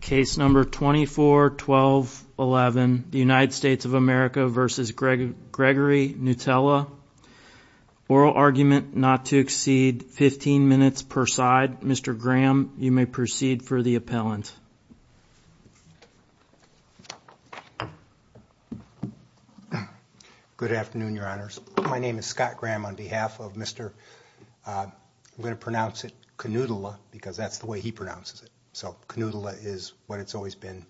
Case number 24-12-11, United States of America v. Gregory Knuuttila. Oral argument not to exceed 15 minutes per side. Mr. Graham, you may proceed for the appellant. Good afternoon, your honors. My name is Scott Graham on behalf of Mr. I'm going to pronounce it Knuuttila because that's the way he pronounces it. So Knuuttila is what it's always been.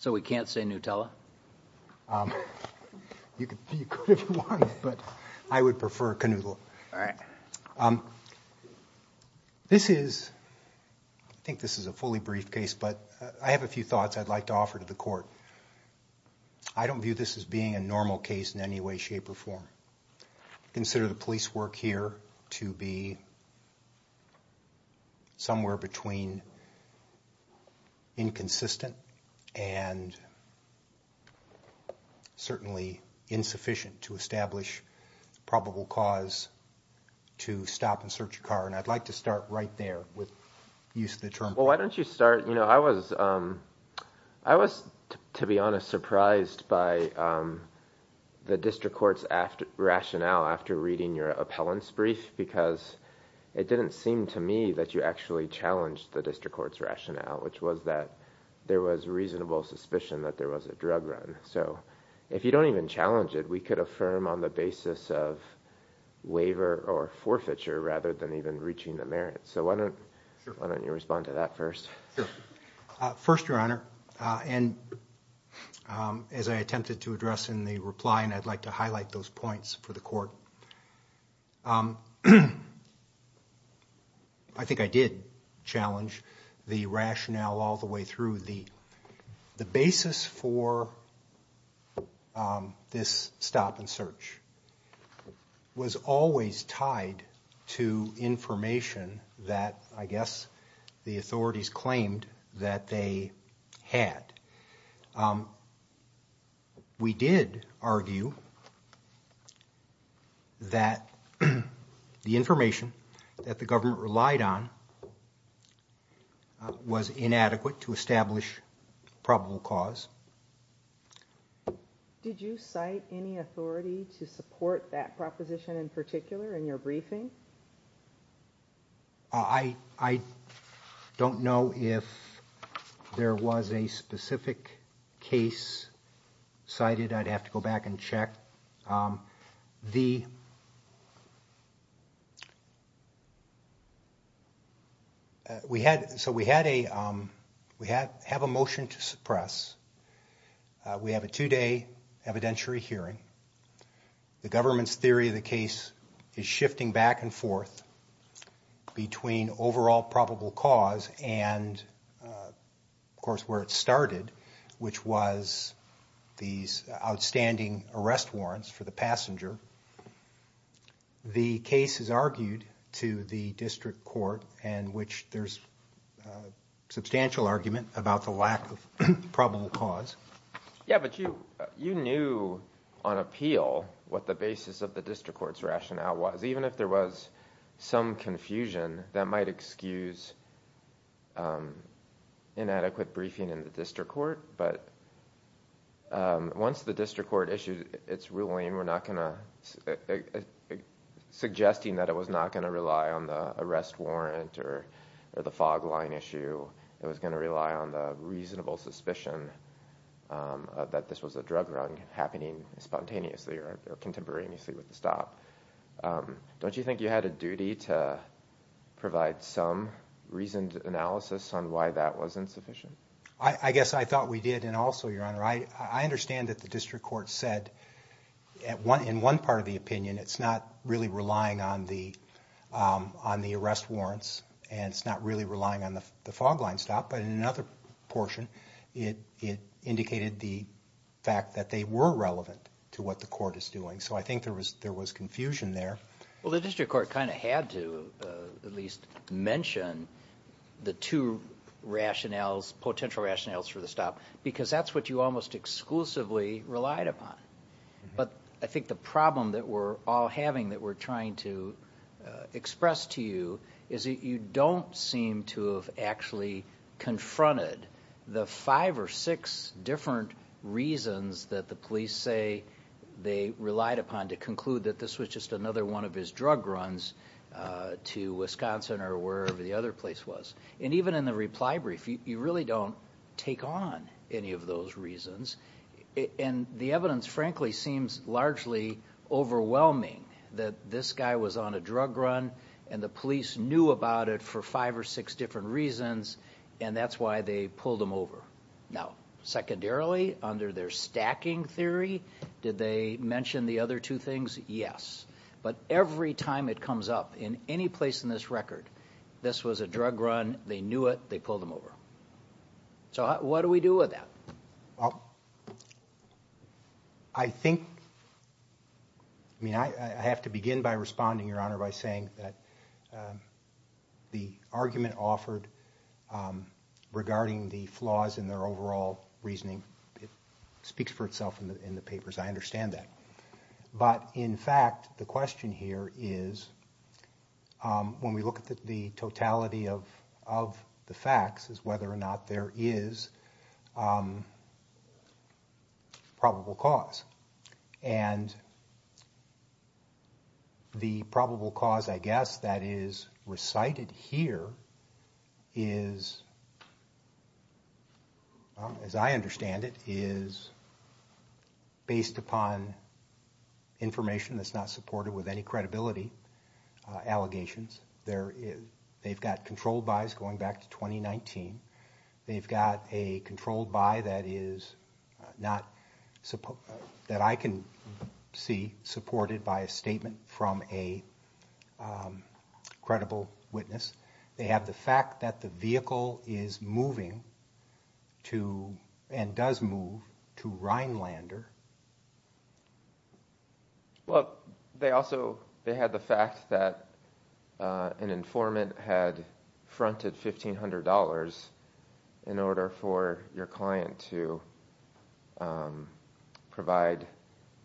So we can't say Nutella? I would prefer Knuuttila. This is, I think this is a fully brief case, but I have a few thoughts I'd like to offer to the court. I don't view this as being a normal case in any way or form. I consider the police work here to be somewhere between inconsistent and certainly insufficient to establish probable cause to stop and search a car. And I'd like to start right there with the use of the term. Well, why don't you rationale after reading your appellant's brief? Because it didn't seem to me that you actually challenged the district court's rationale, which was that there was reasonable suspicion that there was a drug run. So if you don't even challenge it, we could affirm on the basis of waiver or forfeiture rather than even reaching the merits. So why don't you respond to that first? First, your honor, and as I attempted to address in the reply and I'd like to highlight those points for the court, I think I did challenge the rationale all the way through. The basis for this stop and search was always tied to information that I guess the authorities claimed that they had. We did argue that the information that the government relied on was inadequate to establish probable cause. Did you cite any authority to support that proposition in particular in your briefing? I don't know if there was a specific case cited. I'd have to go back and check. So we have a motion to suppress. We have a two-day evidentiary hearing. The government's theory of the case is shifting back and forth between overall probable cause and of course where it started, which was these outstanding arrest warrants for the passenger. The case is argued to the district court in which there's substantial argument about the lack of probable cause. Yeah, but you knew on appeal what the basis of the district court's rationale was. Even if there was some confusion, that might excuse inadequate briefing in the district court. But once the district court issued its ruling suggesting that it was not going to rely on the arrest warrant or the logline issue, it was going to rely on the reasonable suspicion that this was a drug run happening spontaneously or contemporaneously with the stop. Don't you think you had a duty to provide some reasoned analysis on why that was insufficient? I guess I thought we did and also, Your Honor, I understand that the district court said in one part of the opinion it's not really relying on the arrest warrants and it's not really relying on the fog line stop, but in another portion it indicated the fact that they were relevant to what the court is doing. So I think there was confusion there. Well, the district court kind of had to at least mention the two rationales, potential rationales for the stop, because that's what you almost exclusively relied upon. But I think the problem that we're all having that we're trying to express to you is that you don't seem to have actually confronted the five or six different reasons that the police say they relied upon to conclude that this was just another one of his drug runs to Wisconsin or wherever the other place was. And even in the reply brief, you really don't take on any of those reasons. And the evidence, frankly, seems largely overwhelming that this guy was on a drug run and the police knew about it for five or six different reasons, and that's why they pulled him over. Now, secondarily, under their stacking theory, did they mention the other two things? Yes. But every time it comes up in any place in this record, this was a drug run, they knew it, they pulled him over. So what do we do with that? I think, I mean, I have to begin by responding, Your Honor, by saying that the argument offered regarding the flaws in their overall reasoning, it speaks for itself in the papers. I understand that. But, in fact, the question here is, when we look at the totality of the facts, is whether or not there is probable cause. And the probable cause, I guess, that is based upon information that's not supported with any credibility allegations. They've got controlled buys going back to 2019. They've got a controlled buy that is not, that I can see, supported by a statement from a credible witness. They have the fact that the vehicle is moving to, and does move, to Vinelander. Well, they also, they had the fact that an informant had fronted $1,500 in order for your client to provide,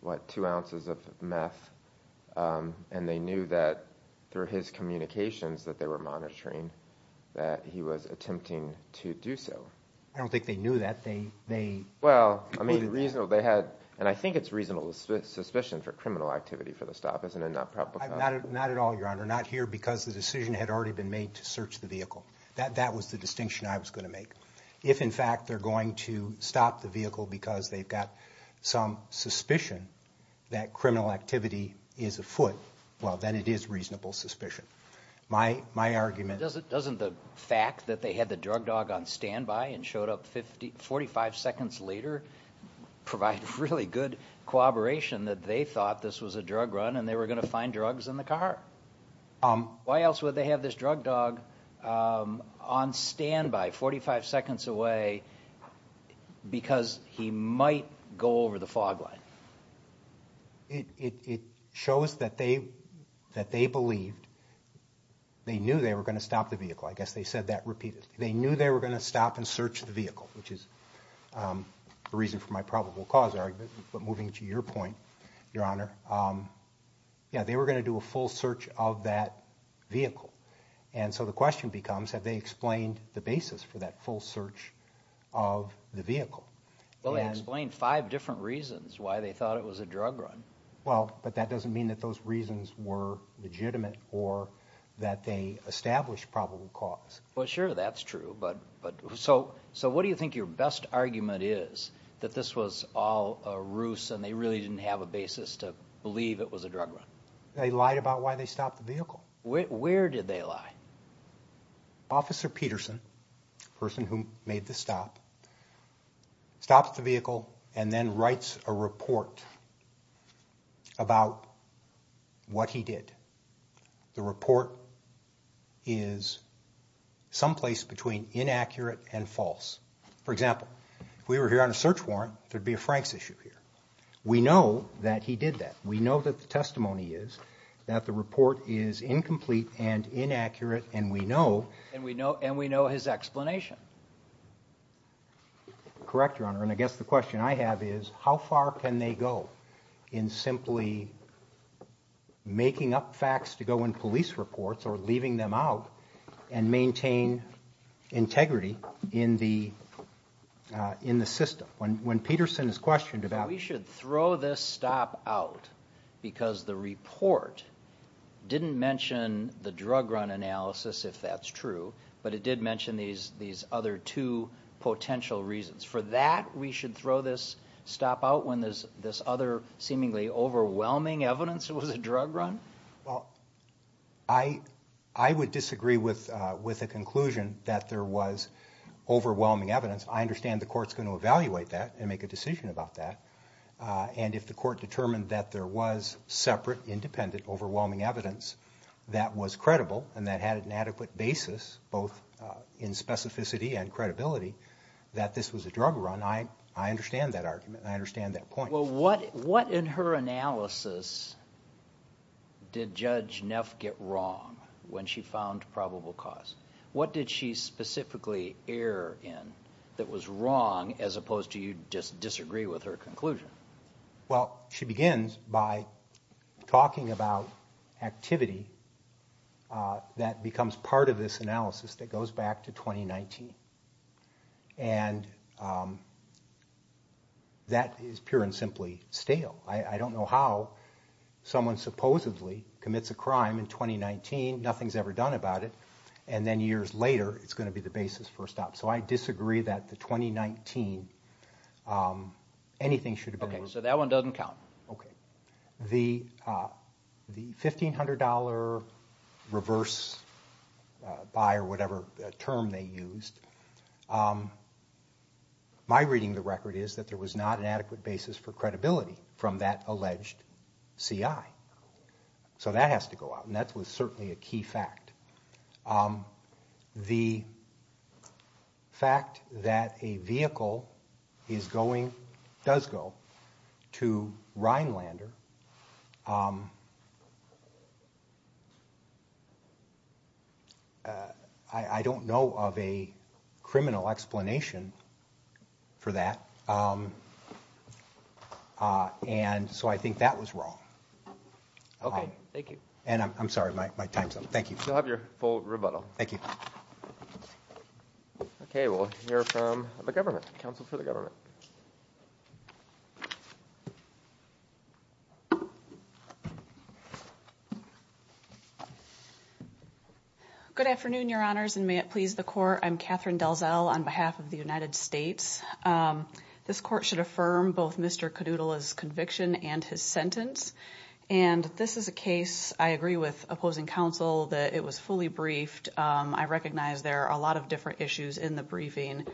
what, two ounces of meth, and they knew that through his communications that they were monitoring, that he was attempting to do so. I don't think they knew that. They, they, well, I mean, the reason they had, and I think it's reasonable suspicion for criminal activity for the stop, isn't it? Not at all, Your Honor. Not here because the decision had already been made to search the vehicle. That, that was the distinction I was going to make. If, in fact, they're going to stop the vehicle because they've got some suspicion that criminal activity is afoot, well, then it is reasonable suspicion. My, my argument... Doesn't, doesn't the fact that they had the drug dog on standby and showed up 50, 45 seconds later provide really good cooperation that they thought this was a drug run and they were going to find drugs in the car? Why else would they have this drug dog on standby, 45 seconds away, because he might go over the fog line? It, it, it shows that they, that they believed, they knew they were going to stop the vehicle. I guess they said that repeatedly. They knew they were going to stop and search the vehicle, which is a reason for my probable cause argument, but moving to your point, Your Honor, yeah, they were going to do a full search of that vehicle. And so the question becomes, have they explained the basis for that full search of the vehicle? Well, they explained five different reasons why they thought it was a drug run. Well, but that doesn't mean that those reasons were legitimate or that they established probable cause. Well, sure, that's true, but, but so, so what do you think your best argument is that this was all a ruse and they really didn't have a basis to believe it was a drug run? They lied about why they stopped the vehicle. Where did they lie? Officer Peterson, the person who made the stop, stops the vehicle and then writes a report about what he did. The report is someplace between inaccurate and false. For example, if we were here on a search warrant, there'd be a Frank's issue here. We know that he did that. We know that the testimony is that the report is incomplete and inaccurate and we know, and we know, and we know his explanation. Correct, Your Honor, and I guess the question I have is, how far can they go in simply making up facts to go in police reports or leaving them out and maintain integrity in the, in the system? When, when Peterson is questioned about... We should throw this stop out because the report didn't mention the drug run analysis, if that's true, but it did mention these, these other two potential reasons. For that, we should throw this stop out when there's this other seemingly overwhelming evidence it was a drug run? Well, I, I would disagree with, with a conclusion that there was overwhelming evidence. I understand the court's going to evaluate that and make a decision about that, and if the court determined that there was separate, independent, overwhelming evidence that was credible and that had an adequate basis, both in specificity and credibility, that this was a drug run, I, I understand that argument. I understand that point. Well, what, what in her analysis did Judge Neff get wrong when she found probable cause? What did she specifically err in that was wrong as opposed to you just disagree with her conclusion? Well, she begins by talking about activity that becomes part of this analysis that goes back to 2019, and that is pure and simply stale. I, I don't know how someone supposedly commits a crime in 2019, nothing's ever done about it, and then years later, it's going to be the basis for a stop. So I disagree that the 2019, anything should have been... Okay, so that one doesn't count. Okay. The, the $1,500 reverse buy or whatever term they used, my reading the record is that there was not an adequate basis for credibility from that alleged CI. So that has to go out, and that was certainly a key fact. The fact that a vehicle is going, does go to Rhinelander, I, I don't know of a criminal explanation for that, and so I think that was wrong. Okay, thank you. And I'm sorry, my time's up. Thank you. You'll have your full rebuttal. Thank you. Okay, we'll hear from the government, counsel for the government. Good afternoon, your honors, and may it please the court, I'm Catherine Delzel on behalf of the United States. This court should affirm both Mr. Cadoodle's conviction and his sentence, and this is a case, I agree with opposing counsel, that it was fully briefed. I recognize there are a lot of different issues in the briefing.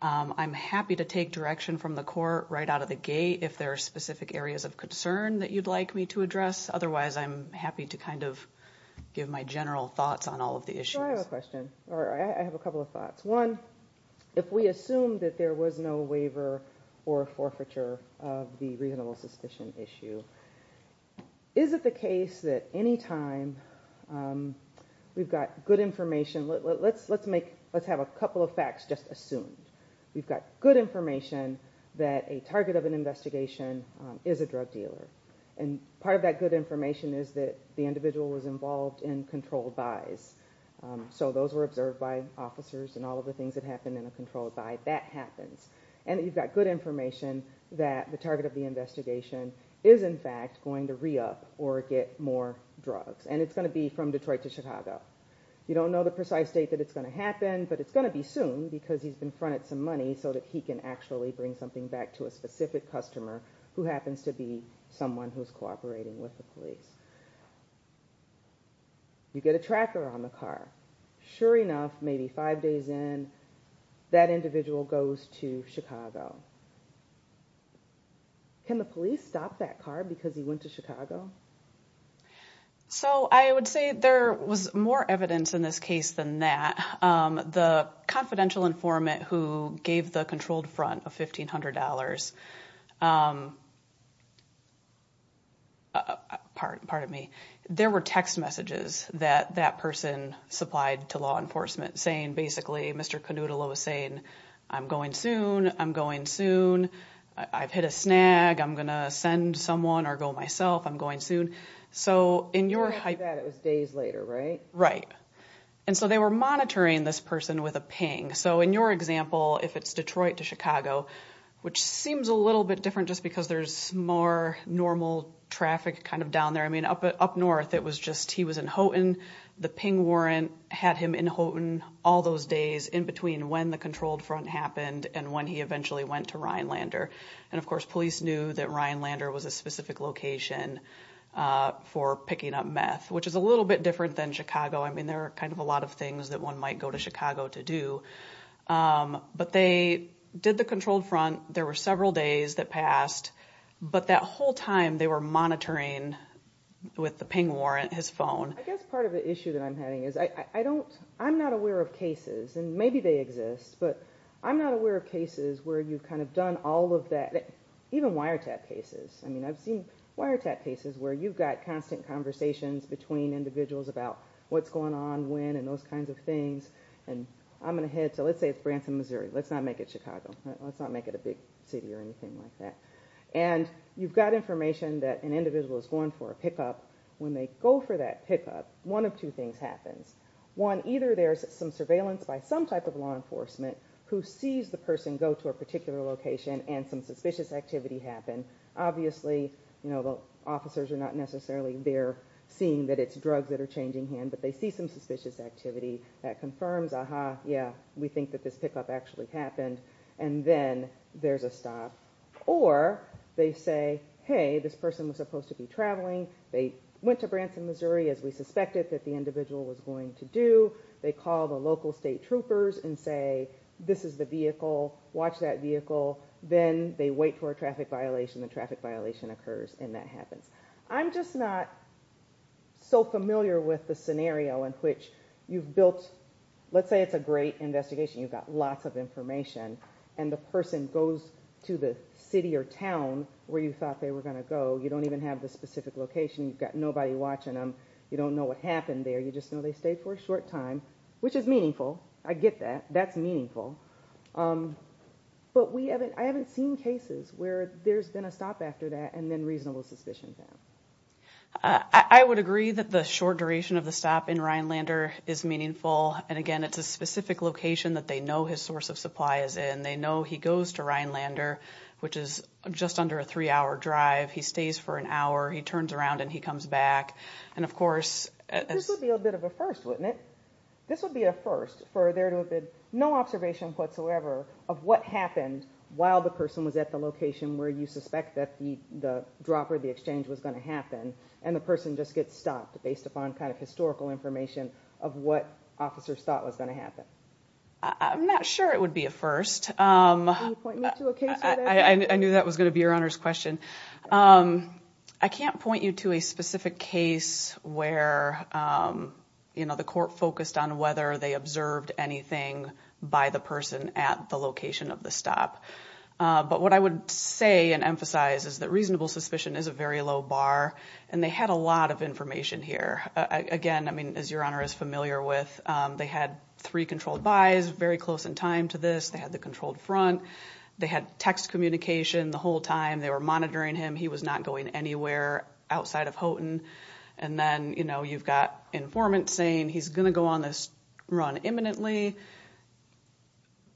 I'm happy to take direction from the court right out of the gate if there are specific areas of concern that you'd like me to address. Otherwise, I'm happy to kind of give my general thoughts on all of the issues. I have a question, or I have a couple of thoughts. One, if we assume that there was no waiver or forfeiture of the reasonable suspicion issue, is it the case that any time we've got good information, let's have a couple of facts just assumed. We've got good information that a target of an investigation is a drug dealer, and part of that good information is that the individual was involved in controlled buys. So those were observed by officers and all of the things that happen in a controlled buy, that happens. And you've got good information that the target of the investigation is in fact going to re-up or get more drugs, and it's going to be from Detroit to Chicago. You don't know the precise date that it's going to happen, but it's going to be soon because he's been fronted some money so that he can actually bring something back to a specific customer who happens to be someone who's cooperating with the police. You get a tracker on the car. Sure individual goes to Chicago. Can the police stop that car because he went to Chicago? So I would say there was more evidence in this case than that. The confidential informant who gave the controlled front of $1,500, pardon me, there were text messages that that person supplied to law enforcement saying basically, Mr. Canoodle was saying, I'm going soon, I'm going soon, I've hit a snag, I'm going to send someone or go myself, I'm going soon. So in your... It was days later, right? Right. And so they were monitoring this person with a ping. So in your example, if it's Detroit to Chicago, which seems a little bit different just because there's more normal traffic kind of down there. I mean all those days in between when the controlled front happened and when he eventually went to Rhinelander. And of course, police knew that Rhinelander was a specific location for picking up meth, which is a little bit different than Chicago. I mean, there are kind of a lot of things that one might go to Chicago to do. But they did the controlled front. There were several days that passed, but that whole time they were monitoring with the ping warrant, his phone. I guess part of the issue that I'm having is I don't, I'm not aware of cases, and maybe they exist, but I'm not aware of cases where you've kind of done all of that, even wiretap cases. I mean, I've seen wiretap cases where you've got constant conversations between individuals about what's going on, when, and those kinds of things. And I'm gonna head to, let's say it's Branson, Missouri. Let's not make it Chicago. Let's not make it a big city or anything like that. And you've got information that an individual is going for a pickup. When they go for that pickup, one of two things happens. One, either there's some surveillance by some type of law enforcement who sees the person go to a particular location and some suspicious activity happen. Obviously, you know, the officers are not necessarily there seeing that it's drugs that are changing hand, but they see some suspicious activity that confirms, aha, yeah, we think that this pickup actually happened. And then there's a stop. Or they say, hey, this person was supposed to be traveling. They went to Branson, Missouri, as we suspected that the individual was going to do. They call the local state troopers and say, this is the vehicle. Watch that vehicle. Then they wait for a traffic violation. The traffic violation occurs and that happens. I'm just not so familiar with the scenario in which you've built, let's say it's a great investigation, you've got lots of information, and the person goes to the city or town where you thought they were going to go. You don't even have the specific location. You've got nobody watching them. You don't know what happened there. You just know they stayed for a short time, which is meaningful. I get that. That's meaningful. But we haven't, I haven't seen cases where there's been a stop after that and then reasonable suspicion. I would agree that the short duration of the stop in Rhinelander is meaningful. And again, it's a specific location that they know his source of supply is in. They know he goes to Rhinelander, which is just under a three-hour drive. He stays for an hour. He turns around and he comes back. And of course... This would be a bit of a first, wouldn't it? This would be a first for there to have been no observation whatsoever of what happened while the person was at the location where you suspect that the dropper, the exchange, was going to happen. And the person just gets stopped based upon kind of historical information of what officers thought was going to happen. I'm not sure it would be a first. Can you point me to a case like that? I knew that was going to be your Honor's question. I can't point you to a specific case where, you know, the court focused on whether they observed anything by the person at the location of the stop. But what I would say and emphasize is that reasonable suspicion is a very low bar. And they had a lot of information here. Again, I mean, as your Honor is familiar with, they had three controlled buys very close in time to this. They had the controlled front. They had text communication the whole time. They were monitoring him. He was not going anywhere outside of Houghton. And then, you know, you've got informant saying he's going to go on this run imminently.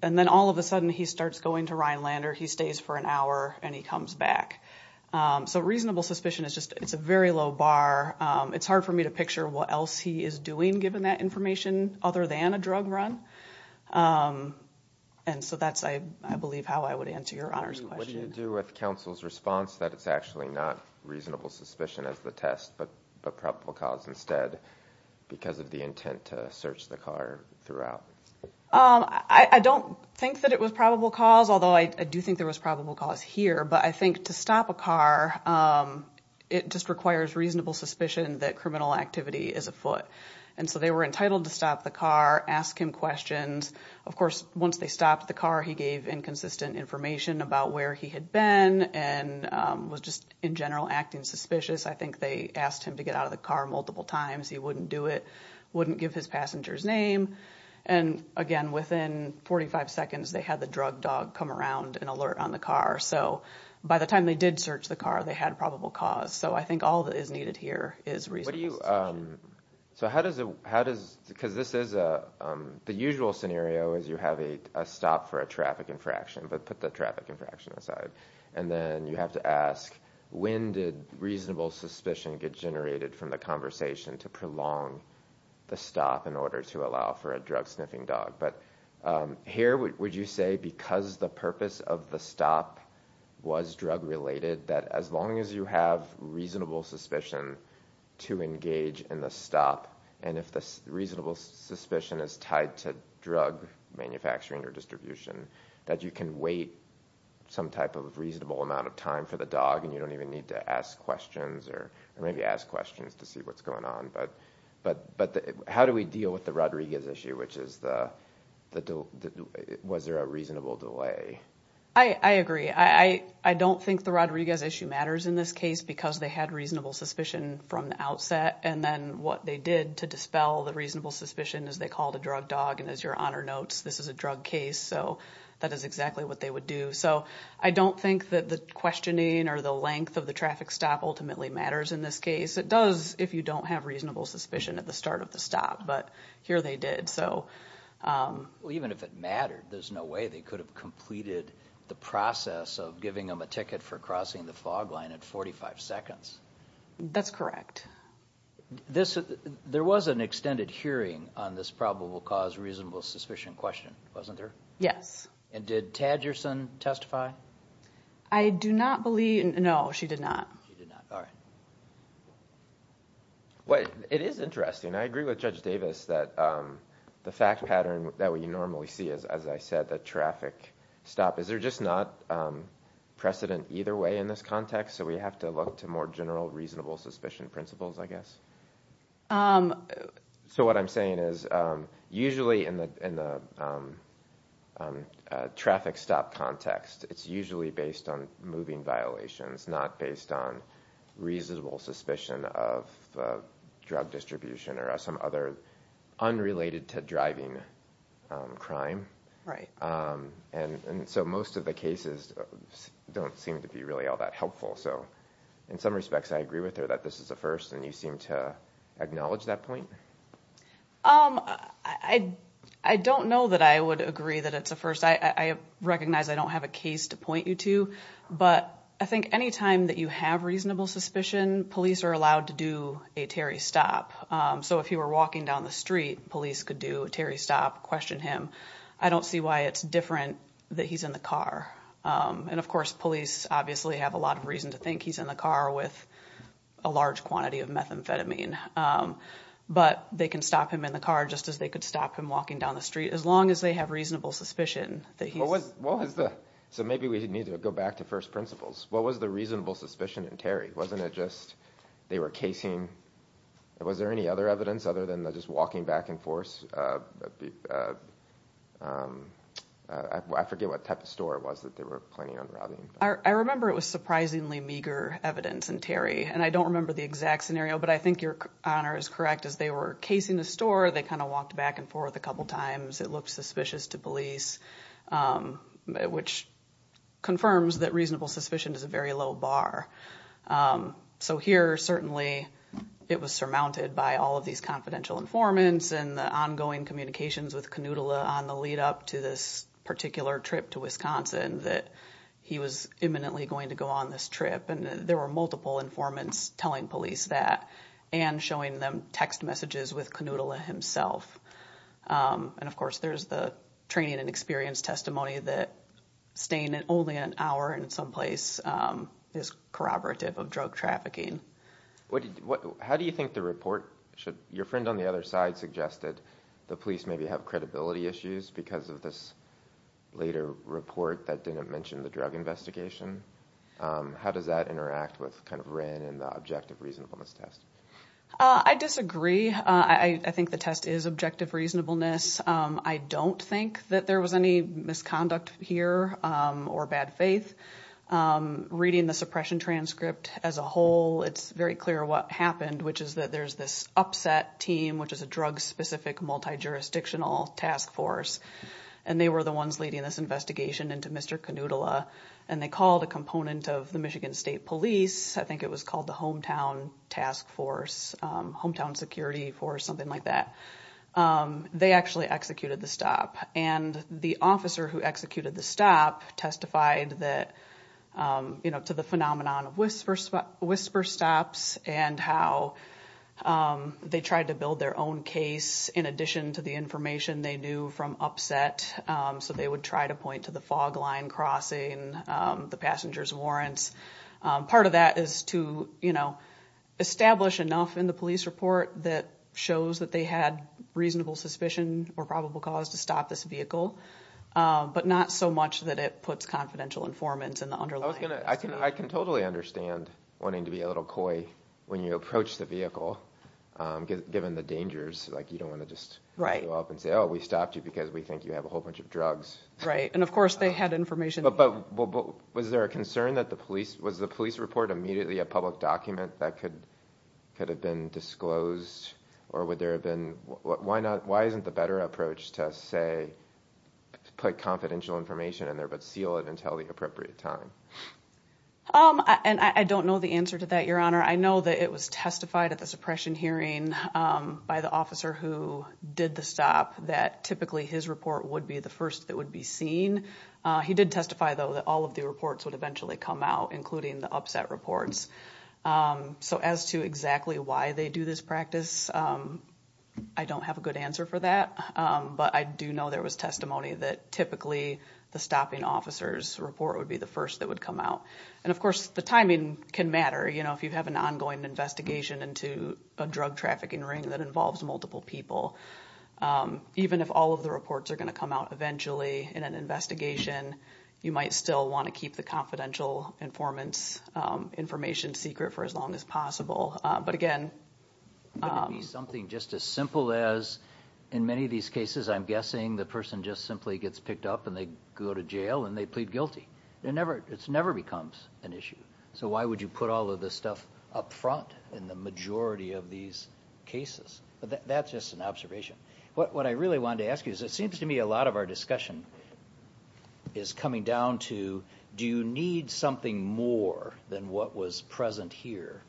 And then all of a sudden he starts going to Rhinelander. He stays for an hour and he comes back. So reasonable suspicion is just... It's a very low bar. It's hard for me to picture what else he is doing given that information other than a drug run. And so that's, I believe, how I would answer your Honor's question. What do you do with counsel's response that it's actually not reasonable suspicion as the test but a probable cause instead because of the intent to search the car throughout? I don't think that it was probable cause, although I do think there was probable cause here. But I think to stop a car, it just requires reasonable suspicion that criminal activity is afoot. And so they were entitled to stop the car, ask him questions. Of course, once they stopped the car, he gave inconsistent information about where he had been and was just, in general, acting suspicious. I think they asked him to get out of the car multiple times. He wouldn't do it, wouldn't give his passenger's name. And again, within 45 seconds, they had the drug dog come around and alert on the car. So by the time they did search the car, they had probable cause. So I think all that is needed here is reasonable suspicion. So how does it, how does, because this is a, the usual scenario is you have a stop for a traffic infraction, but put the traffic infraction aside. And then you have to ask, when did reasonable suspicion get generated from the conversation to prolong the stop in order to allow for a drug sniffing dog? But here, would you say because the purpose of the stop was drug related, that as long as you have reasonable suspicion to engage in the stop, and if the reasonable suspicion is tied to drug manufacturing or distribution, that you can wait some type of reasonable amount of time for the dog and you don't even need to ask questions or maybe ask questions to see what's going on. But, but, but how do we deal with the Rodriguez issue, which is the, the, was there a reasonable delay? I, I agree. I, I don't think the Rodriguez issue matters in this case because they had reasonable suspicion from the outset. And then what they did to dispel the reasonable suspicion is they called a drug dog. And as your honor notes, this is a drug case. So that is exactly what they would do. So I don't think that the questioning or the length of the traffic stop ultimately matters in this case. It does if you don't have reasonable suspicion at the start of the stop, but here they did. So, um, well, even if it mattered, there's no way they could have completed the process of giving them a ticket for crossing the fog line at 45 seconds. That's correct. This, there was an extended hearing on this probable cause reasonable suspicion question, wasn't there? Yes. And did Tadgerson testify? I do not believe. No, she did not. She did not. All right. Well, it is interesting. I agree with Judge Davis that, um, the fact pattern that we normally see is, as I said, the traffic stop, is there just not, um, precedent either way in this context. So we have to look to more general reasonable suspicion principles, I guess. Um, so what I'm saying is, um, usually in the, in the, um, um, uh, traffic stop context, it's usually based on moving violations, not based on reasonable suspicion of, uh, drug distribution or some other unrelated to driving, um, crime. Right. Um, and so most of the cases don't seem to be really all that helpful. So in some respects, I agree with her that this is a first and you seem to acknowledge that point. Um, I, I don't know that I would agree that it's a first. I recognize I don't have a case to point you to, but I think anytime that you have reasonable suspicion, police are allowed to do a Terry stop. Um, so if you were walking down the street, police could do a Terry stop, question him. I don't see why it's different that he's in the car. Um, and of course, police obviously have a lot of reason to think he's in the car with a large quantity of methamphetamine. Um, but they can stop him in the car just as they could stop him walking down the street, as long as they have reasonable suspicion that he was, what was the, so maybe we need to go back to first principles. What was the reasonable suspicion in Terry? Wasn't it just they were casing? Was there any other evidence other than just walking back and forth? Uh, um, I forget what type of store it was that they were planning on robbing. I remember it was surprisingly meager evidence and Terry and I don't remember the exact scenario, but I think your honor is correct as they were casing the store. They kind of walked back and forth a couple of times. It looked suspicious to police. Um, which confirms that reasonable suspicion is a very low bar. Um, so here certainly it was surmounted by all of these confidential informants and the ongoing communications with Canoodle on the lead up to this particular trip to Wisconsin that he was imminently going to go on this trip. And there were multiple informants telling police that and showing them text messages with Canoodle himself. Um, and of course there's the training and experience testimony that staying in only an hour in some place, um, is corroborative of drug trafficking. What? How do you think the report should your friend on the other side suggested the police maybe have credibility issues because of this later report that didn't mention the drug investigation? Um, how does that interact with kind of ran in the objective reasonableness test? I disagree. I think the test is objective reasonableness. I don't think that there was any misconduct here, um, or bad faith. Um, reading the suppression transcript as a whole, it's very clear what happened, which is that there's this upset team, which is a drug specific multi jurisdictional task force. And they were the ones leading this investigation into Mr. Canoodle. Uh, and they called a component of the Michigan State Police. I think it was called the hometown task force, um, hometown security for something like that. Um, they actually executed the stop and the officer who executed the stop testified that, um, you know, to the phenomenon of whisper, whisper stops and how, um, they tried to build their own case in addition to the information they knew from upset. Um, so they would try to point to the fog line crossing, um, the passengers warrants. Um, part of that is to, you police report that shows that they had reasonable suspicion or probable cause to stop this vehicle. Um, but not so much that it puts confidential informants in the underlying. I can totally understand wanting to be a little coy when you approach the vehicle. Um, given the dangers, like you don't want to just go up and say, oh, we stopped you because we think you have a whole bunch of drugs. Right. And of course they had information. But was there a concern that the police was the police report immediately a public document that could, could have been disclosed or would there have been, why not? Why isn't the better approach to say, put confidential information in there, but seal it until the appropriate time. Um, and I don't know the answer to that, your honor. I know that it was testified at the suppression hearing, um, by the officer who did the stop that typically his report would be the first that would be seen. Uh, he did testify though that all of the reports would eventually come out, including the upset reports. Um, so as to exactly why they do this practice, um, I don't have a good answer for that. Um, but I do know there was testimony that typically the stopping officers report would be the first that would come out. And of course the timing can matter. You know, if you have an ongoing investigation into a drug trafficking ring that involves multiple people, um, even if all of the reports are going to come out eventually in an investigation, you might still want to keep the confidential informants, um, information secret for as long as possible. Uh, but again, something just as simple as in many of these cases, I'm guessing the person just simply gets picked up and they go to jail and they plead guilty. They're never, it's never becomes an issue. So why would you put all of this stuff up front in the majority of these cases? But that's just an observation. What, what I really wanted to ask you is it seems to me a lot of our discussion is coming down to, do you need something more than what was present here?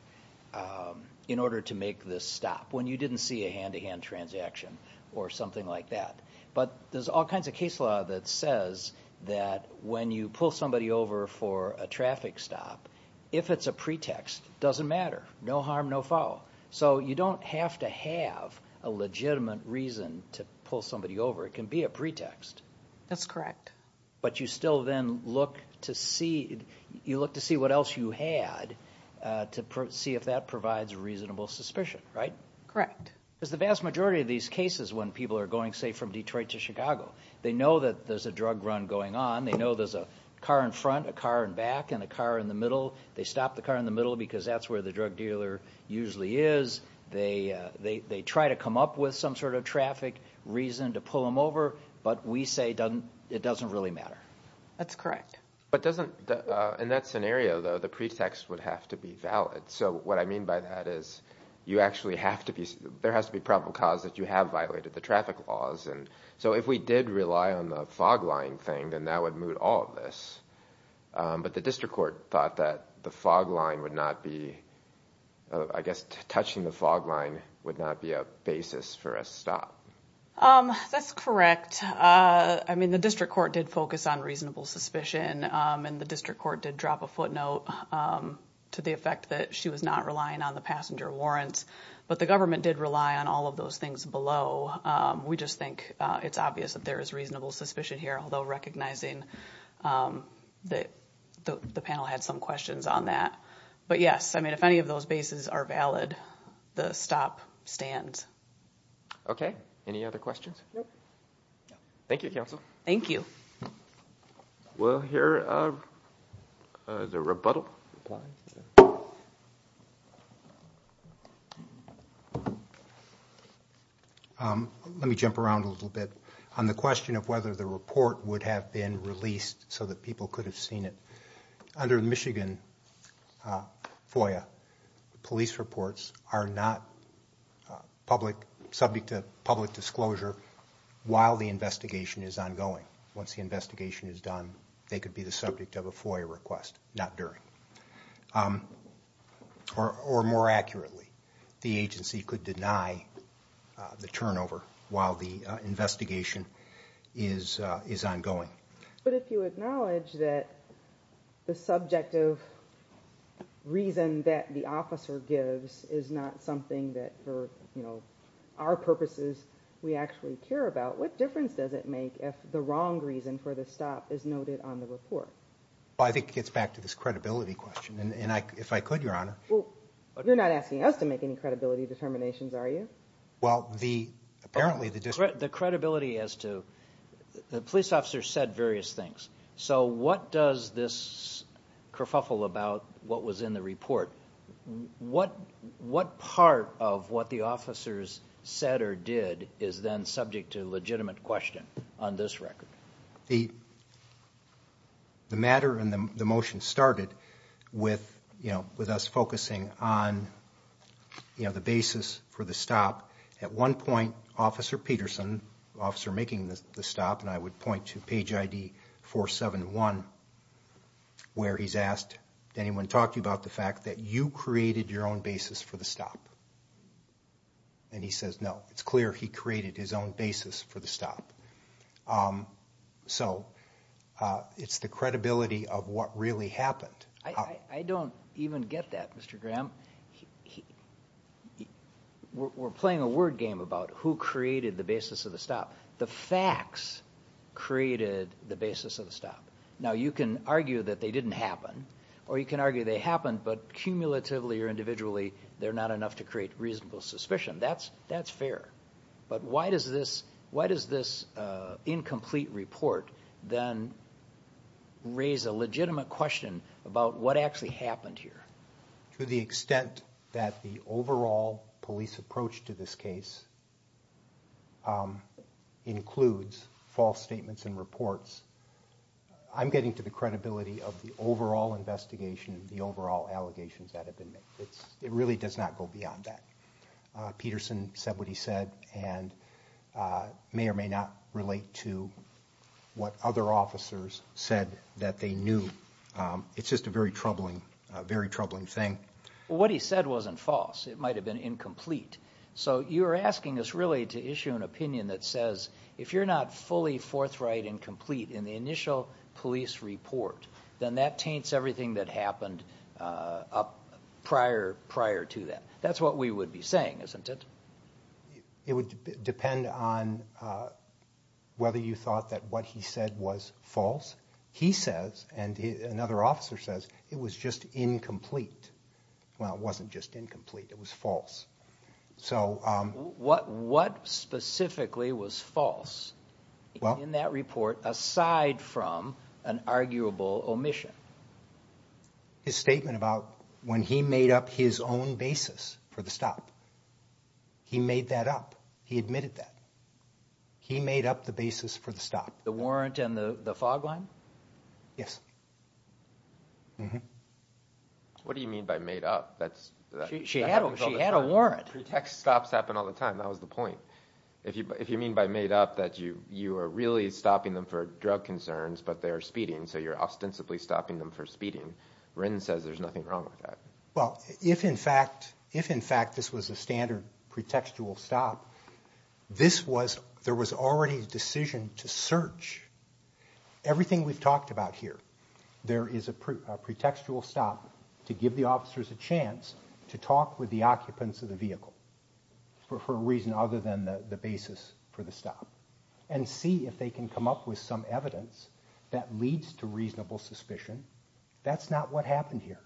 Um, in order to make this stop when you didn't see a hand to hand transaction or something like that. But there's all kinds of case law that says that when you pull somebody over for a traffic stop, if it's a pretext, doesn't matter. No harm, no foul. So you don't have to have a legitimate reason to pull somebody over. It can be a pretext. That's correct. But you still then look to see, you look to see what else you had, uh, to see if that provides reasonable suspicion, right? Correct. Because the vast majority of these cases when people are going, say from Detroit to Chicago, they know that there's a drug run going on. They know there's a car in front, a car in back and a car in the middle. They stopped the car in the middle because that's where the drug dealer usually is. They, uh, they, they try to come up with some sort of traffic reason to pull them over. But we say it doesn't really matter. That's correct. But doesn't, uh, in that scenario though, the pretext would have to be valid. So what I mean by that is you actually have to be, there has to be probable cause that you have violated the traffic laws. And so if we did rely on the fog line thing, then that would move all of this. Um, but the district court thought that the fog line would not be, uh, I guess touching the fog line would not be a basis for a stop. Um, that's correct. Uh, I mean the district court did focus on reasonable suspicion. Um, and the district court did drop a footnote, um, to the effect that she was not relying on the passenger warrants, but the government did rely on all of those things below. Um, we just think it's obvious that there is reasonable suspicion here, although recognizing, um, that the panel had some questions on that. But yes, I think if any of those bases are valid, the stop stands. Okay. Any other questions? Nope. Thank you, counsel. Thank you. Well, here, uh, uh, the rebuttal. Um, let me jump around a little bit on the question of whether the report would have been released so that people could have seen it under the Michigan, uh, FOIA police reports are not public subject to public disclosure while the investigation is ongoing. Once the investigation is done, they could be the subject of a FOIA request, not during, um, or more accurately, the agency could deny the turnover while the investigation is ongoing. But if you acknowledge that the subjective reason that the officer gives is not something that for, you know, our purposes, we actually care about, what difference does it make if the wrong reason for the stop is noted on the report? I think it gets back to this credibility question. And if I could, Your Honor, well, you're not asking us to make any credibility determinations, are you? Well, the apparently the credibility as to the police officer said various things. So what does this kerfuffle about what was in the report? What, what part of what the officers said or did is then subject to legitimate question on this record? The matter and the motion started with, you know, with us focusing on, you know, the basis for the stop. At one point, Officer Peterson, officer making the stop, and I would point to page ID 471, where he's asked, anyone talk to you about the fact that you created your own basis for the stop? And he says, no, it's clear he created his own basis for the stop. Um, so, uh, it's the credibility of what really happened. I don't even get that, Mr. Graham. He, we're playing a word game about who created the basis of the stop. The facts created the basis of the stop. Now you can argue that they didn't happen, or you can argue they happened, but cumulatively or individually, they're not enough to create reasonable suspicion. That's, that's fair. But why does this, why does this incomplete report then raise a legitimate question about what actually happened here? To the extent that the overall police approach to this case, um, includes false statements and reports. I'm getting to the credibility of the overall investigation, the overall allegations that have been made. It's, it really does not go beyond that. Peterson said what he said, and, uh, may or may not relate to what other officers said that they knew. Um, it's just a very troubling, very troubling thing. What he said wasn't false. It might have been incomplete. So you're asking us really to issue an opinion that says if you're not fully forthright and complete in the initial police report, then that taints everything that happened, uh, up prior prior to that. That's what we would be saying, isn't it? It would depend on, uh, whether you thought that what he said was false. He says, and another officer says it was just incomplete. Well, it wasn't just incomplete. It was false. So, um, what, what specifically was false in that report aside from an arguable omission? His statement about when he made up his own basis for the stop, he made that up. He admitted that he made up the basis for the stop, the warrant and the fog line. Yes. Mhm. What do you mean by made up? That's she had a warrant. Protect stops happen all the time. That was the point. If you, if you mean by made up that you, you are really stopping them for drug concerns, but they're speeding. So you're ostensibly stopping them for speeding. Wren says there's nothing wrong with that. Well, if in fact, if in fact this was a standard pretextual stop, this was, there was already a decision to search everything we've talked about here. There is a pretextual stop to give the officers a chance to talk with the occupants of the vehicle for a reason other than the basis for stop and see if they can come up with some evidence that leads to reasonable suspicion. That's not what happened here.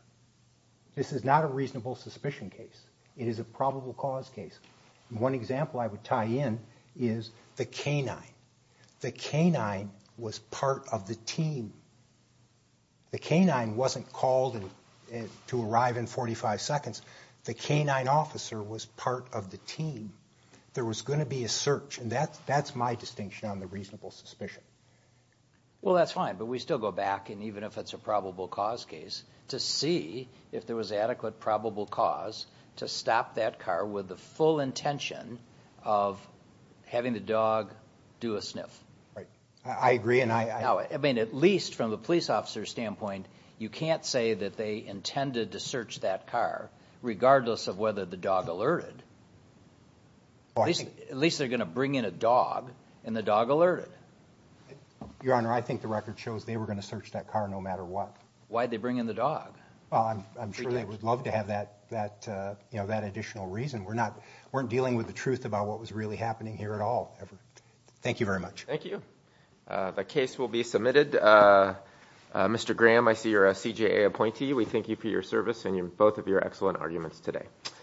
This is not a reasonable suspicion case. It is a probable cause case. One example I would tie in is the canine. The canine was part of the team. The canine wasn't called to arrive in 45 seconds. The canine officer was part of the team. There was going to be a search. And that's, that's my distinction on the reasonable suspicion. Well, that's fine, but we still go back. And even if it's a probable cause case to see if there was adequate probable cause to stop that car with the full intention of having the dog do a sniff. Right. I agree. And I mean, at least from the police officer standpoint, you can't say that they intended to search that car regardless of whether the dog alerted, at least they're going to bring in a dog and the dog alerted. Your Honor, I think the record shows they were going to search that car no matter what. Why'd they bring in the dog? I'm sure they would love to have that, that, you know, that additional reason. We're not, weren't dealing with the truth about what was really happening here at all. Thank you very much. Thank you. The case will be submitted. Mr. Graham, I see you're a CJA appointee. We thank you for your service and both of your excellent arguments today.